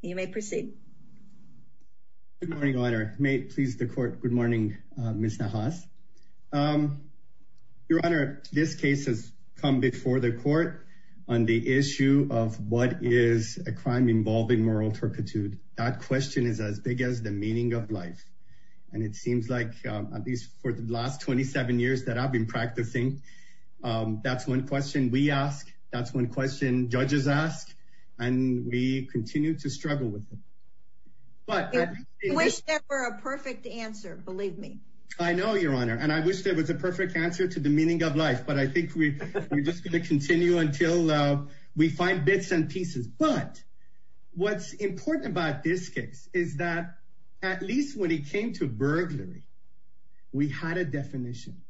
Good morning, Your Honor. May it please the court. Good morning, Ms. Nahas. Your Honor, this case has come before the court on the issue of what is a crime involving moral turpitude. That question is as big as the meaning of life. And it seems like, at least for the last 27 years that I've been practicing, that's one question we ask, that's one question judges ask, and we continue to struggle with it. You wish there were a perfect answer, believe me. I know, Your Honor, and I wish there was a perfect answer to the meaning of life, but I think we're just going to continue until we find bits and pieces. But what's important about this case is that, at least when it came to burglary, we had a definition.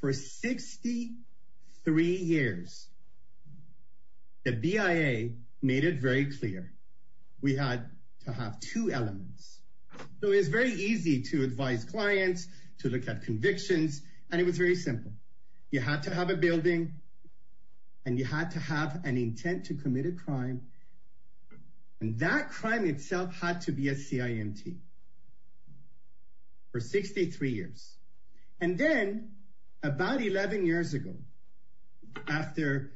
For 63 years, the BIA made it very clear we had to have two elements. So it was very easy to advise clients, to look at convictions, and it was very simple. You had to have a That crime itself had to be a CIMT. For 63 years. And then, about 11 years ago, after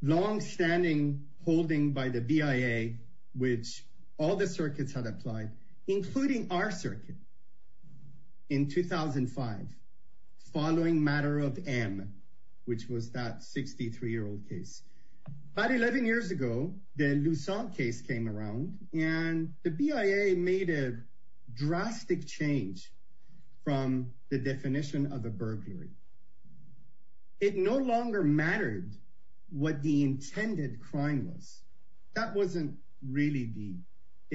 long-standing holding by the BIA, which all the circuits had applied, including our circuit, in 2005, following matter of M, which was that 63-year-old case. About 11 years ago, the Lussant case came around, and the BIA made a drastic change from the definition of a burglary. It no longer mattered what the intended crime was. That wasn't really the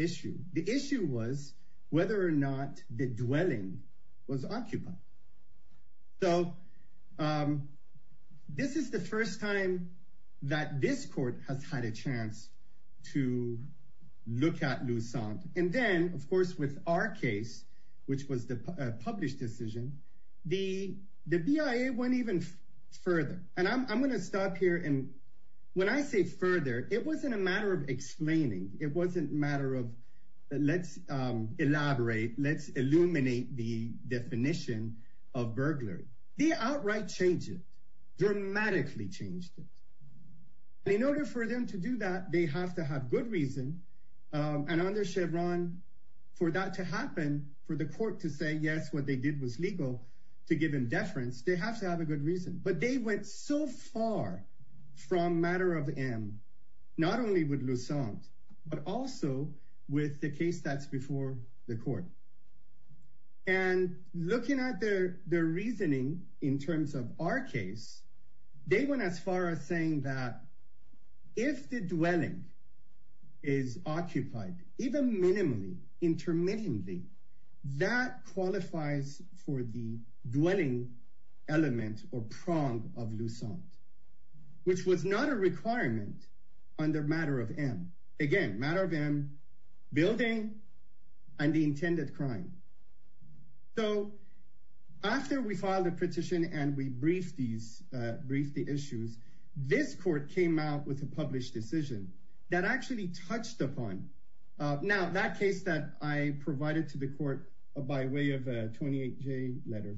issue. The issue was whether or not the dwelling was occupied. So this is the first time that this court has had a chance to look at Lussant. And then, of course, with our case, which was the published decision, the BIA went even further. And I'm going to stop here. And when I say further, it wasn't a matter of explaining. It wasn't a matter of, let's elaborate. Let's illuminate the definition of burglary. They outright changed it. Dramatically changed it. In order for them to do that, they have to have good reason. And under Chevron, for that to happen, for the court to say, yes, what they did was legal, to give them deference, they have to have a good reason. But they went so far from matter of M, not only with Lussant, but also with the case that's before the court. And looking at their reasoning in terms of our case, they went as far as saying that if the dwelling is occupied, even minimally, intermittently, that qualifies for the dwelling element or prong of Lussant, which was not a requirement under matter of M. Again, matter of M, building and the intended crime. So after we filed a petition and we briefed the issues, this court came out with a published decision that actually touched upon. Now, that case that I provided to the court by way of a 28-J letter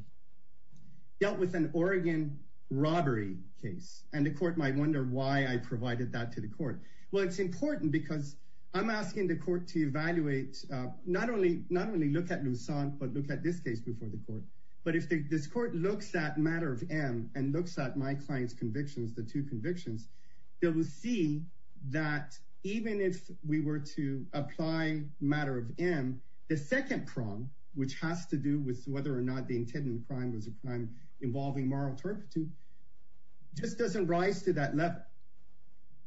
dealt with an Oregon robbery case. And the court might wonder why I provided that to the court. Well, it's important because I'm asking the court to evaluate, not only look at Lussant, but look at this case before the court. But if this court looks at matter of M and looks at my client's convictions, the two convictions, they will see that even if we were to apply matter of M, the second prong, which has to do with whether or not the intended crime was a crime involving moral turpitude, just doesn't rise to that level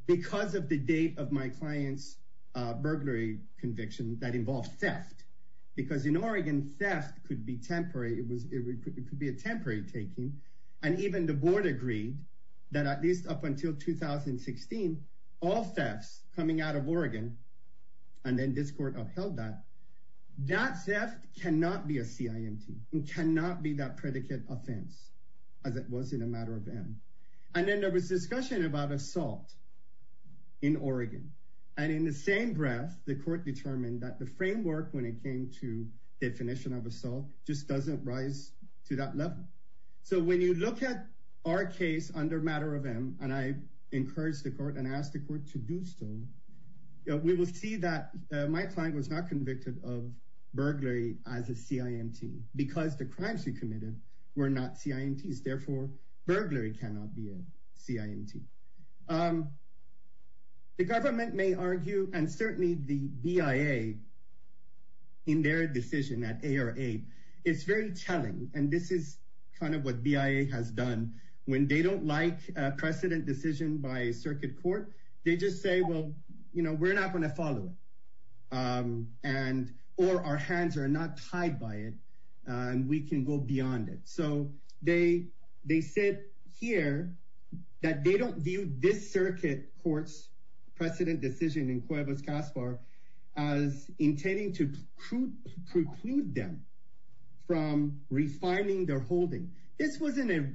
because of the date of my client's burglary conviction that involved theft. Because in Oregon, theft could be temporary. It could be a temporary taking. And even the board agreed that at least up until 2016, all thefts coming out of Oregon, and then this court upheld that, that theft cannot be a CIMT. It cannot be that predicate offense as it was in a matter of M. And then there was discussion about assault in Oregon. And in the same breath, the court determined that the framework when it came to definition of assault just doesn't rise to that level. So when you look at our case under matter of M, and I encouraged the court and asked the court to do so, we will see that my client was not convicted of burglary as a CIMT because the crimes he committed were not CIMTs. Therefore, burglary cannot be a CIMT. The government may argue and certainly the BIA in their decision that ARA, it's very telling. And this is kind of what BIA has done. When they don't like precedent decision by circuit court, they just say, well, you know, we're not going to follow it. And, or our hands are not tied by it. And we can go beyond it. So they, they said here, that they don't view this them from refining their holding. This wasn't a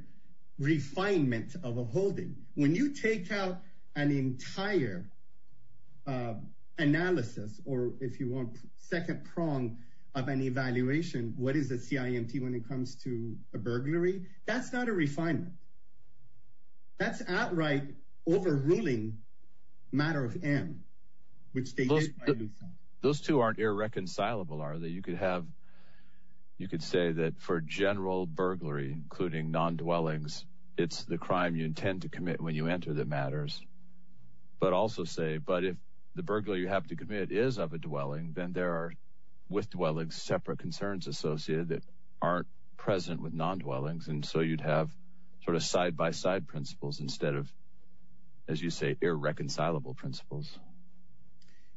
refinement of a holding. When you take out an entire analysis, or if you want second prong of an evaluation, what is a CIMT when it comes to a burglary? That's not a refinement. That's outright overruling matter of M, which they did by Lucent. Those two aren't irreconcilable, are they? You could have, you could say that for general burglary, including non-dwellings, it's the crime you intend to commit when you enter that matters. But also say, but if the burglary you have to commit is of a dwelling, then there are with dwellings separate concerns associated that aren't present with non-dwellings. And so you'd have sort of side-by-side principles instead of, as you say, irreconcilable principles.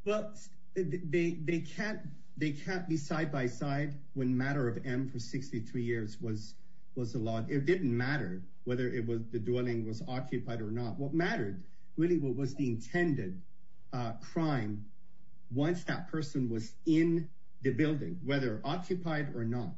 Well, they, they can't, they can't be side-by-side when matter of M for 63 years was, was allowed. It didn't matter whether it was the dwelling was occupied or not. What mattered really what was the intended crime once that person was in the building, whether occupied or not.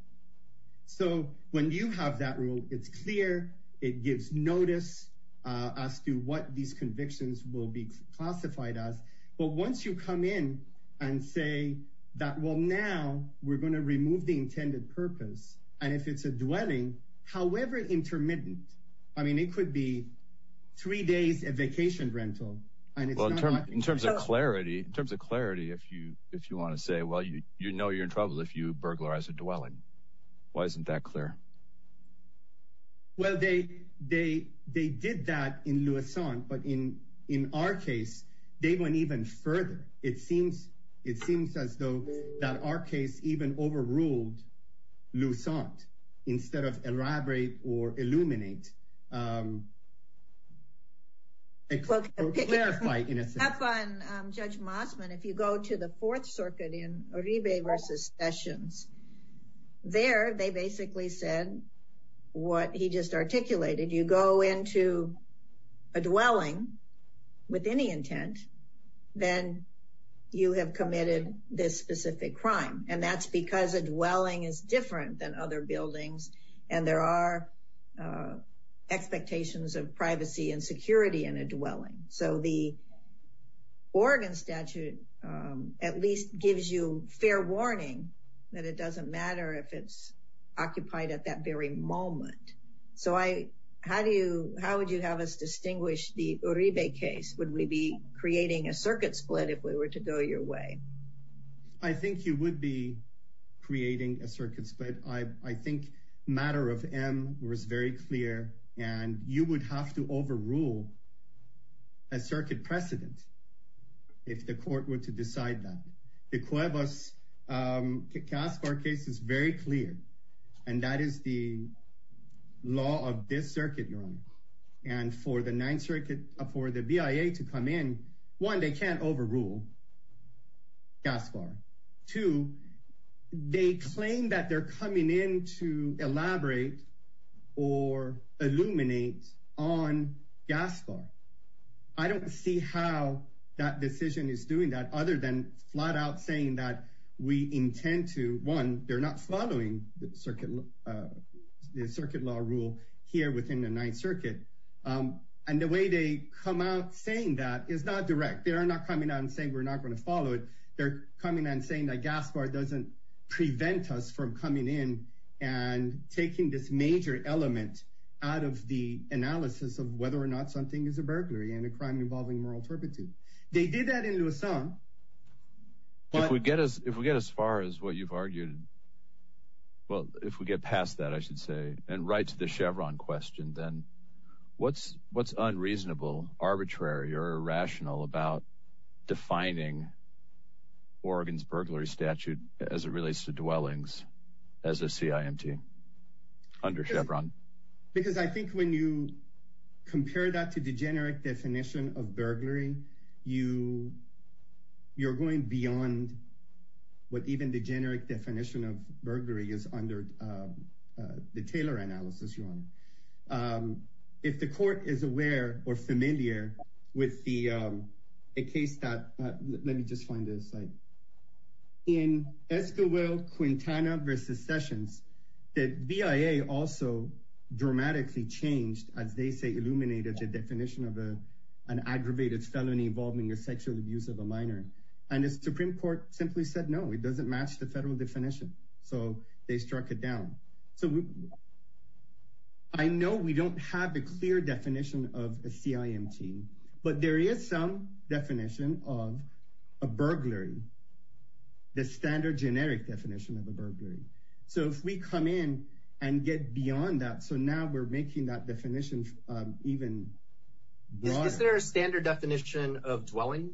So when you have that rule, it's clear, it gives notice as to what these convictions will be classified as. But once you come in and say that, well, now we're going to remove the intended purpose. And if it's a dwelling, however, intermittent, I mean, it could be three days of vacation rental. And in terms of clarity, in terms of clarity, if you, if you want to say, well, you, you know, you're in trouble if you burglarize a dwelling. Why isn't that clear? Well, they, they, they did that in Luzon, but in, in our case, they went even further. It seems, it seems as though that our case even overruled Luzon instead of elaborate or illuminate. Well, clarify in a sense. Judge Mosman, if you go to the fourth circuit in Uribe versus Sessions, there, they basically said what he just articulated. You go into a dwelling with any intent, then you have committed this specific crime. And that's because a dwelling is different than other buildings. And there are expectations of privacy and security in a dwelling. So the Oregon statute at least gives you fair warning that it doesn't matter if it's occupied at that very moment. So I, how do you, how would you have us distinguish the Uribe case? Would we be creating a circuit split if we were to go your way? I think you would be creating a circuit split. I think matter of M was very clear, and you would have to overrule a circuit precedent if the court were to decide that. The Cuevas-Gaspar case is very clear, and that is the law of this circuit, Your Honor. And for the ninth circuit, for the BIA to come in, one, they can't overrule Gaspar. Two, they claim that they're coming in to elaborate or illuminate on Gaspar. I don't see how that decision is doing that other than flat out saying that we intend to, one, they're not following the circuit law rule here within the ninth circuit. And the way they come out saying that is not direct. They are not coming out and saying we're not going to follow it. They're coming and saying that Gaspar doesn't prevent us from coming in and taking this major element out of the analysis of whether or not something is a burglary and a crime involving moral turpitude. They did that in Luzon. If we get as far as what you've argued, well, if we get past that, I should say, and right to the Chevron question, then what's unreasonable, arbitrary, or irrational about defining Oregon's burglary statute as it relates to dwellings as a CIMT under Chevron? Because I think when you compare that to the generic definition of burglary, you're going beyond what even the generic definition of burglary is under the Taylor analysis, Your Honor. If the court is aware or familiar with the case that, let me just find this. In Esquivel-Quintana v. Sessions, the VIA also dramatically changed, as they say, illuminated the definition of an aggravated felony involving a sexual abuse of a minor. And the Supreme Court simply said, no, it doesn't match the federal definition. So they struck it down. I know we don't have a clear definition of a CIMT, but there is some definition of a burglary, the standard generic definition of a burglary. So if we come in and get beyond that, so now we're making that definition even broader. Is there a standard definition of dwelling?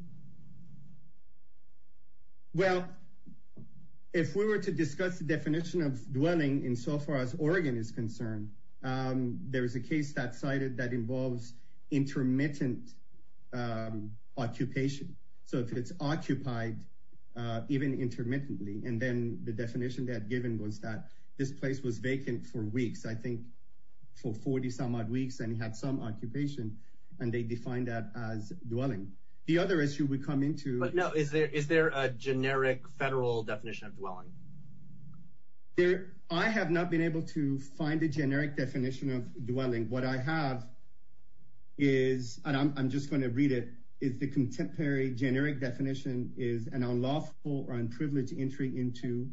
Well, if we were to discuss the definition of dwelling in so far as Oregon is concerned, there is a case that's cited that involves intermittent occupation. So if it's occupied even intermittently, and then the definition they had given was that this place was vacant for weeks, I think for 40 some odd weeks and had some occupation, and they defined that as dwelling. The other issue we come into- But no, is there a generic federal definition of dwelling? I have not been able to find a generic definition of dwelling. What I have is, and I'm just going to read it, is the contemporary generic definition is an unlawful or unprivileged entry into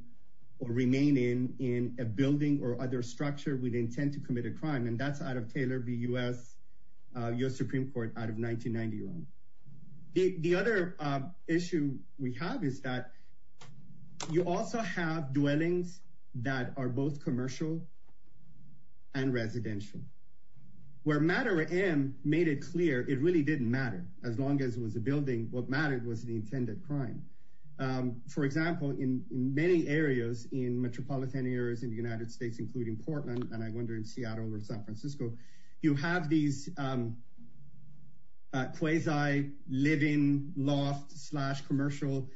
or remaining in a building or other structure with intent to commit a crime. And that's out of Taylor v. U.S., U.S. Supreme Court out of 1991. The other issue we have is that you also have dwellings that are both commercial and residential. Where Matter M made it clear, it really didn't matter. As long as it was a building, what mattered was the intended crime. For example, in many areas, in metropolitan areas in the United States, including Portland, and I wonder in Seattle or San Francisco, you have these quasi living loft slash commercial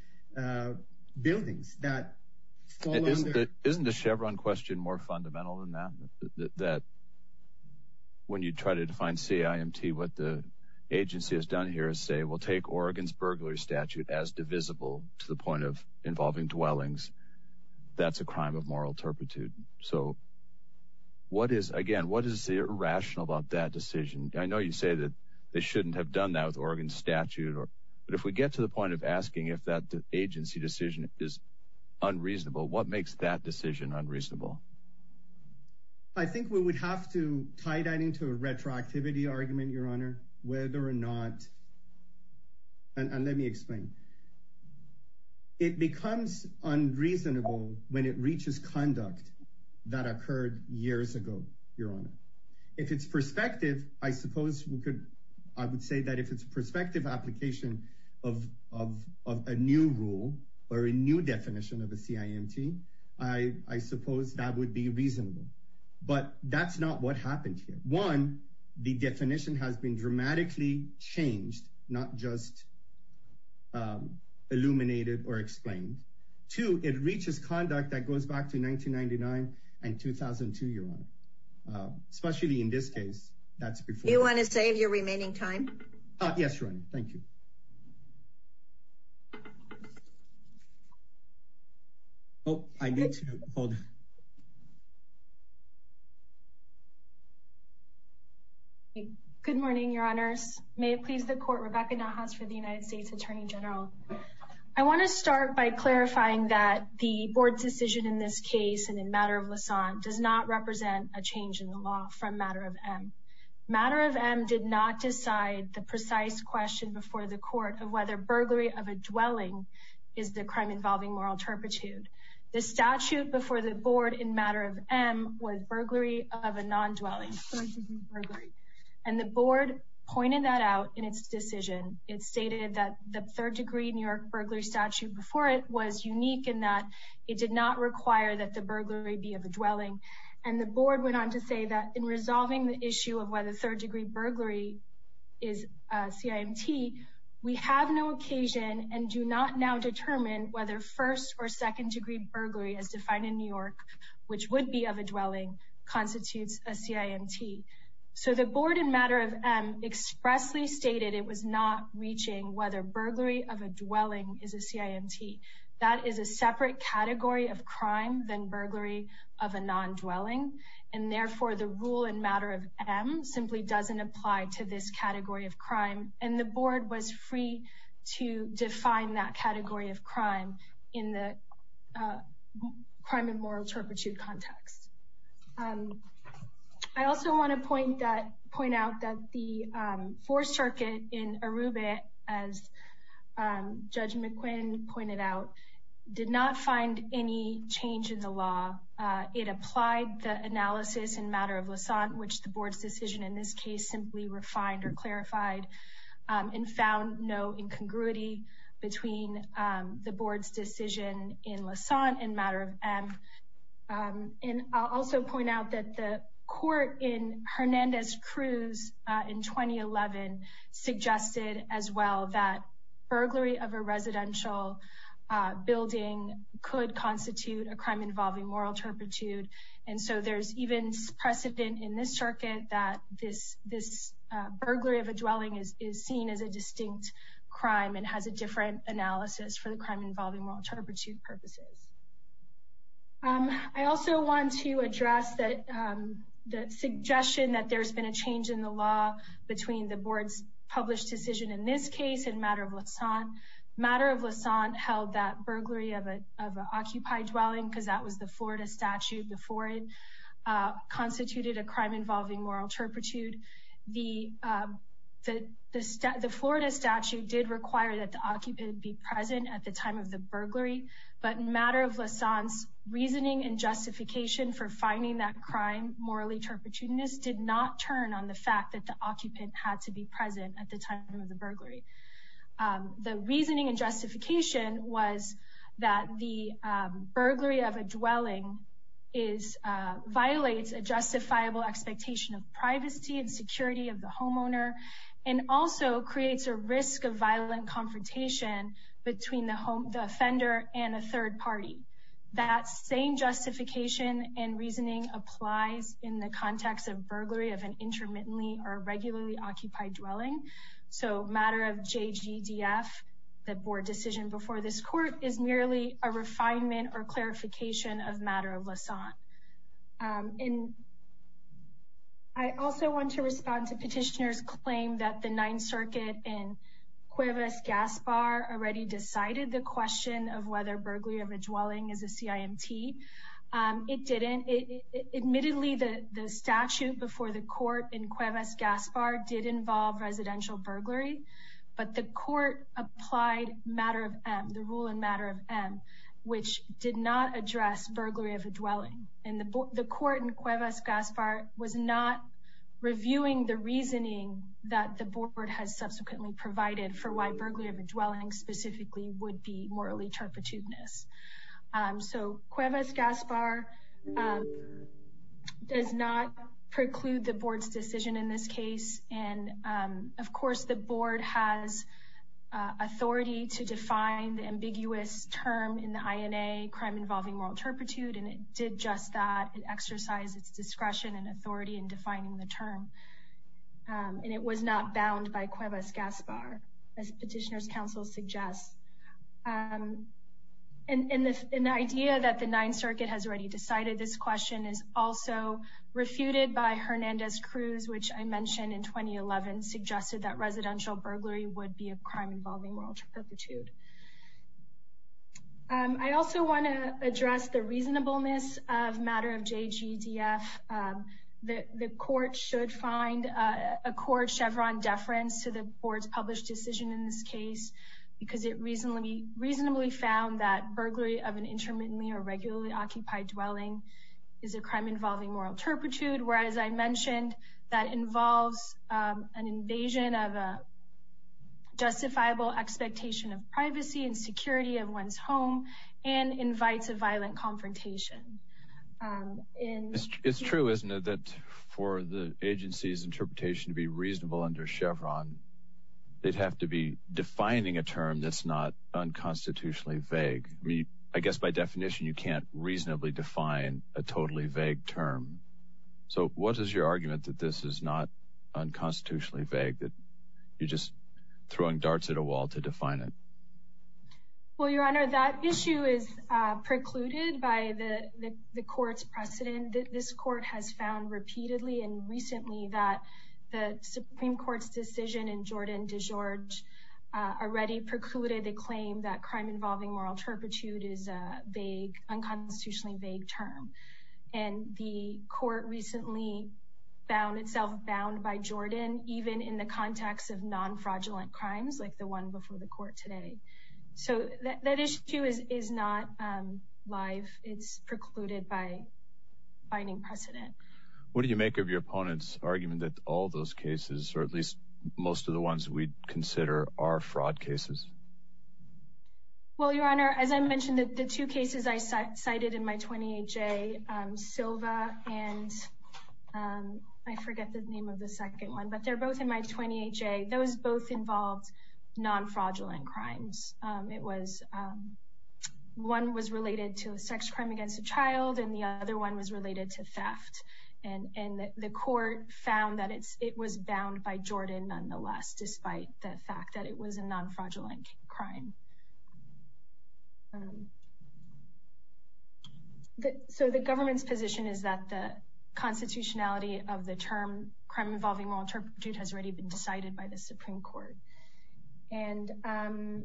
buildings that fall under- Isn't the Chevron question more fundamental than that? That when you try to define CIMT, what the agency has done here is say, we'll take Oregon's burglary statute as divisible to the point of involving dwellings. That's a crime of moral turpitude. So what is, again, what is irrational about that decision? I know you say that they shouldn't have done that with Oregon's statute. But if we get to the point of asking if that agency decision is unreasonable, what makes that decision unreasonable? I think we would have to tie that into a retroactivity argument, Your Honor. Whether or not, and let me explain. It becomes unreasonable when it reaches conduct that occurred years ago, Your Honor. If it's perspective, I suppose we could, I would say that if it's a perspective application of a new rule or a new definition of a CIMT, I suppose that would be reasonable. But that's not what happened here. One, the definition has been dramatically changed, not just illuminated or explained. Two, it reaches conduct that goes back to 1999 and 2002, Your Honor. Especially in this case, that's before. You want to save your remaining time? Yes, Your Honor. Thank you. Oh, I need to hold. Okay. Good morning, Your Honors. May it please the court, Rebecca Nahas for the United States Attorney General. I want to start by clarifying that the board's decision in this case and in matter of Lausanne does not represent a change in the law from matter of M. Matter of M did not decide the precise question before the court of whether burglary of a dwelling is the crime involving moral turpitude. The statute before the board in matter of M was burglary of a non-dwelling. And the board pointed that out in its decision. It stated that the third degree New York burglary statute before it was unique in that it did not require that the burglary be of a dwelling. And the board went on to say that in resolving the issue of whether third degree burglary is CIMT, we have no occasion and do not now determine whether first or second degree burglary as defined in New York, which would be of a dwelling constitutes a CIMT. So the board in matter of M expressly stated it was not reaching whether burglary of a dwelling is a CIMT. That is a separate category of crime than burglary of a non-dwelling. And therefore, the rule in matter of M simply doesn't apply to this category of crime. And the board was free to define that category of crime in the crime and moral turpitude context. And I also want to point that point out that the fourth circuit in Aruba, as Judge McQuinn pointed out, did not find any change in the law. It applied the analysis in matter of Lausanne, which the board's decision in this case simply refined or clarified and found no incongruity between the board's decision in Lausanne and matter of M. And I'll also point out that the court in Hernandez-Cruz in 2011 suggested as well that burglary of a residential building could constitute a crime involving moral turpitude. And so there's even precedent in this circuit that this burglary of a dwelling is seen as a distinct crime and has a different analysis for the crime involving moral turpitude purposes. I also want to address the suggestion that there's been a change in the law between the board's published decision in this case and matter of Lausanne. Matter of Lausanne held that burglary of an occupied dwelling, because that was the Florida statute before it constituted a crime involving moral turpitude. The Florida statute did require that the occupant be present at the time of the burglary. But matter of Lausanne's reasoning and justification for finding that crime morally turpitude did not turn on the fact that the occupant had to be present at the time of the burglary. The reasoning and justification was that the burglary of a dwelling violates a justifiable expectation of privacy and security of the homeowner and also creates a risk of violent confrontation between the offender and a third party. That same justification and reasoning applies in the context of burglary of an intermittently or regularly occupied dwelling. So matter of JGDF, the board decision before this court, is merely a refinement or clarification of matter of Lausanne. And I also want to respond to petitioners' claim that the Ninth Circuit in Cuevas-Gaspar already decided the question of whether burglary of a dwelling is a CIMT. It didn't. Admittedly, the statute before the court in Cuevas-Gaspar did involve residential burglary, but the court applied the rule in matter of M, which did not address burglary of a dwelling. The court in Cuevas-Gaspar was not reviewing the reasoning that the board has subsequently provided for why burglary of a dwelling specifically would be morally turpitudinous. So Cuevas-Gaspar does not preclude the board's decision in this case. And, of course, the board has authority to define the ambiguous term in the INA, Crime Involving Moral Turpitude, and it did just that. It exercised its discretion and authority in defining the term. And it was not bound by Cuevas-Gaspar, as petitioners' counsel suggests. And the idea that the Ninth Circuit has already decided this question is also refuted by Hernandez-Cruz, which I mentioned in 2011, suggested that residential burglary would be a crime involving moral turpitude. I also want to address the reasonableness of matter of JGDF. The court should find a court-chevron deference to the board's published decision in this case because it reasonably found that burglary of an intermittently or regularly occupied dwelling is a crime involving moral turpitude, whereas I mentioned that involves an invasion of a justifiable expectation of privacy and security of one's home and invites a violent confrontation. It's true, isn't it, that for the agency's interpretation to be reasonable under chevron, they'd have to be defining a term that's not unconstitutionally vague. I mean, I guess by definition, you can't reasonably define a totally vague term. So what is your argument that this is not unconstitutionally vague, that you're just throwing darts at a wall to define it? Well, Your Honor, that issue is precluded by the court's precedent. This court has found repeatedly and recently that the Supreme Court's decision in Jordan DeGeorge already precluded the claim that crime involving moral turpitude is a vague, unconstitutionally vague term. And the court recently found itself bound by Jordan, even in the context of non-fraudulent crimes like the one before the court today. So that issue is not live. It's precluded by binding precedent. What do you make of your opponent's argument that all those cases, or at least most of the ones we'd consider, are fraud cases? Well, Your Honor, as I mentioned, the two cases I cited in my 28-J, Silva and I forget the name of the second one, but they're both in my 28-J. Those both involved non-fraudulent crimes. One was related to a sex crime against a child, and the other one was related to theft. And the court found that it was bound by Jordan, nonetheless, despite the fact that it was a non-fraudulent crime. So the government's position is that the constitutionality of the term crime involving moral turpitude has already been decided by the Supreme Court. And I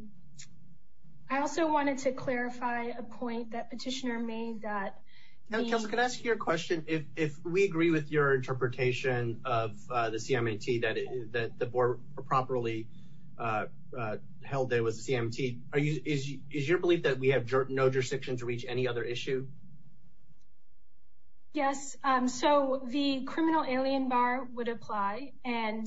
also wanted to clarify a point that Petitioner made that... Now, Kelsey, can I ask you a question? If we agree with your interpretation of the CMAT that the board properly held that it was a CMAT, is your belief that we have no jurisdiction to reach any other issue? Yes. So the criminal alien bar would apply. And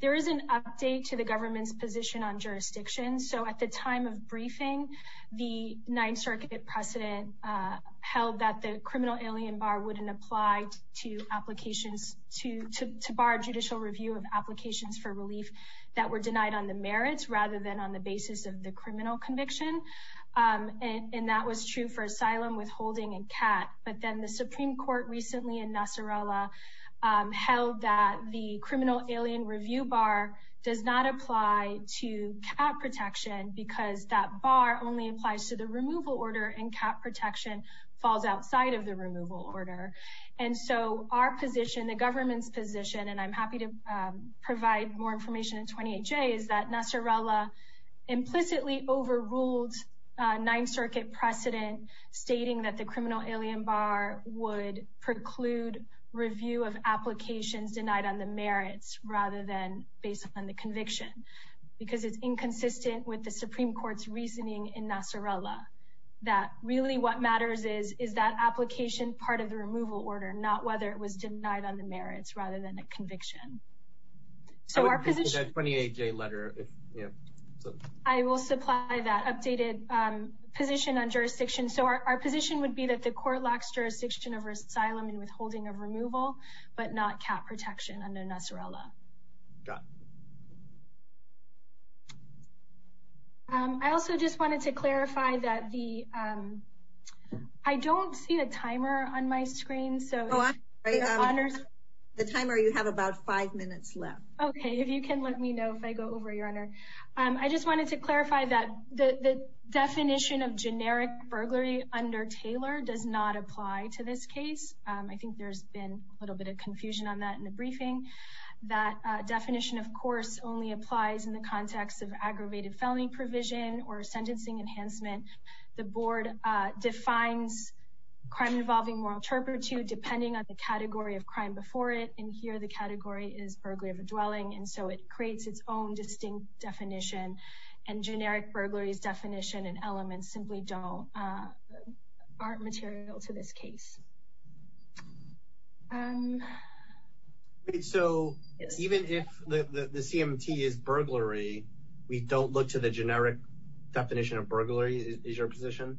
there is an update to the government's position on jurisdiction. So at the time of briefing, the Ninth Circuit precedent held that the criminal alien bar wouldn't apply to applications to bar judicial review of applications for relief that were denied on the merits rather than on the basis of the criminal conviction. And that was true for asylum, withholding, and CAT. But then the Supreme Court recently in Nasarala held that the criminal alien review bar does not apply to CAT protection because that bar only applies to the removal order, and CAT protection falls outside of the removal order. And so our position, the government's position, and I'm happy to provide more information in 28J, is that Nasarala implicitly overruled Ninth Circuit precedent stating that the criminal alien bar would preclude review of applications denied on the merits rather than based on the conviction because it's inconsistent with the Supreme Court's reasoning in Nasarala. That really what matters is, is that application part of the removal order, not whether it was denied on the merits rather than a conviction. So our position- I would read that 28J letter if, you know, so- I will supply that updated position on jurisdiction. So our position would be that the court lacks jurisdiction over asylum and withholding of removal, but not CAT protection under Nasarala. Got it. Um, I also just wanted to clarify that the, um, I don't see a timer on my screen, so- Oh, I'm sorry, um, the timer, you have about five minutes left. Okay, if you can let me know if I go over, Your Honor. Um, I just wanted to clarify that the definition of generic burglary under Taylor does not apply to this case. I think there's been a little bit of confusion on that in the briefing. That definition, of course, only applies in the context of aggravated felony provision or sentencing enhancement. The board defines crime involving moral turpitude depending on the category of crime before it, and here the category is burglary of a dwelling, and so it creates its own distinct definition, and generic burglaries definition and elements simply don't, aren't material to this case. Um. So even if the CMT is burglary, we don't look to the generic definition of burglary, is your position?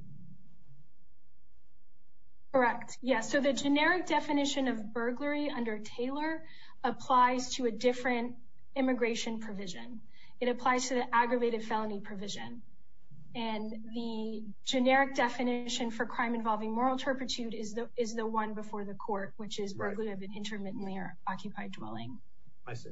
Correct, yes. So the generic definition of burglary under Taylor applies to a different immigration provision. It applies to the aggravated felony provision, and the generic definition for crime involving moral turpitude is the one before the court, which is burglary of an intermittently or occupied dwelling. I see.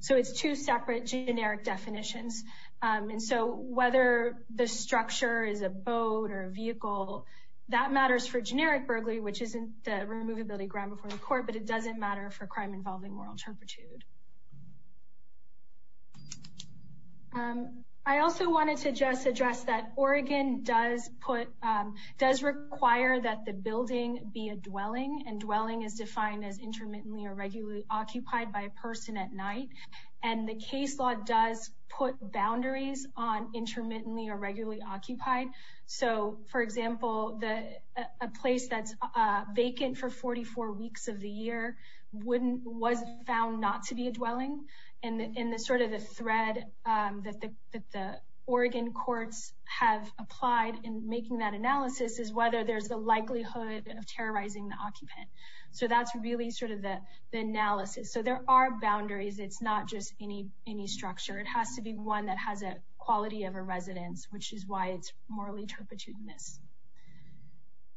So it's two separate generic definitions, and so whether the structure is a boat or a vehicle, that matters for generic burglary, which isn't the removability ground before the court, but it doesn't matter for crime involving moral turpitude. Um, I also wanted to just address that Oregon does put, does require that the building be a dwelling, and dwelling is defined as intermittently or regularly occupied by a person at night, and the case law does put boundaries on intermittently or regularly occupied. So, for example, the, a place that's vacant for 44 weeks of the year wouldn't, was found not to be a dwelling, and the, and the sort of the thread, um, that the, that the Oregon courts have applied in making that analysis is whether there's a likelihood of terrorizing the occupant. So that's really sort of the, the analysis. So there are boundaries. It's not just any, any structure. It has to be one that has a quality of a residence, which is why it's morally turpitude in this.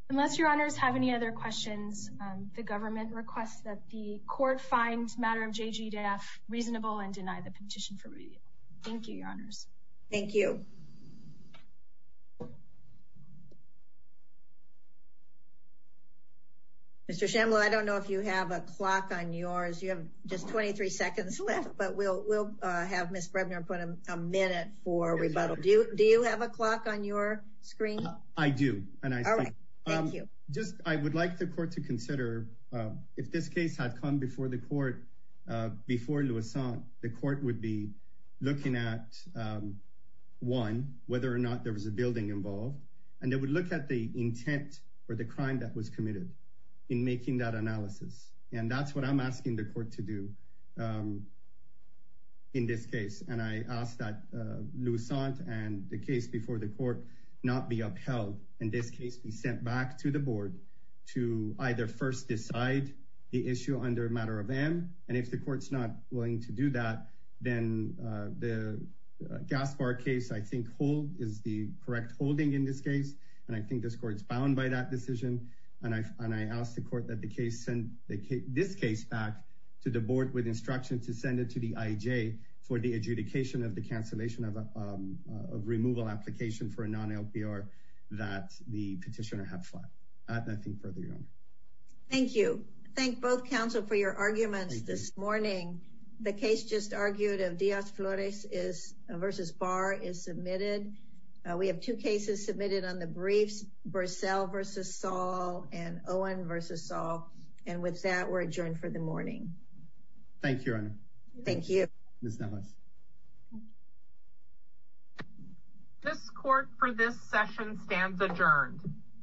Unless your honors have any other questions, um, the government requests that the court find matter of JGDAF reasonable and deny the petition for review. Thank you, your honors. Thank you. Mr. Shambla, I don't know if you have a clock on yours. You have just 23 seconds left, but we'll, we'll, uh, have Ms. Brebner put a minute for rebuttal. Do you, do you have a clock on your screen? I do. And I, um, just, I would like the court to consider, um, if this case had come before the court, uh, before Loussant, the court would be looking at, um, one, whether or not there was a building involved. And they would look at the intent for the crime that was committed in making that analysis. And that's what I'm asking the court to do, um, in this case. And I asked that, uh, Loussant and the case before the court not be upheld. In this case, we sent back to the board to either first decide the issue under a matter of M. And if the court's not willing to do that, then, uh, the Gaspar case, I think hold is the correct holding in this case. And I think this court is bound by that decision. And I, and I asked the court that the case sent the case, this case back to the board with instruction to send it to the IJ for the adjudication of the cancellation of, um, of removal application for a non-LPR that the petitioner had filed. I have nothing further, Your Honor. Thank you. Thank both counsel for your arguments this morning. The case just argued of Diaz-Flores is, uh, versus Barr is submitted. We have two cases submitted on the briefs, Bursell versus Saul and Owen versus Saul. And with that, we're adjourned for the morning. Thank you, Your Honor. Thank you. Ms. Neves. This court for this session stands adjourned.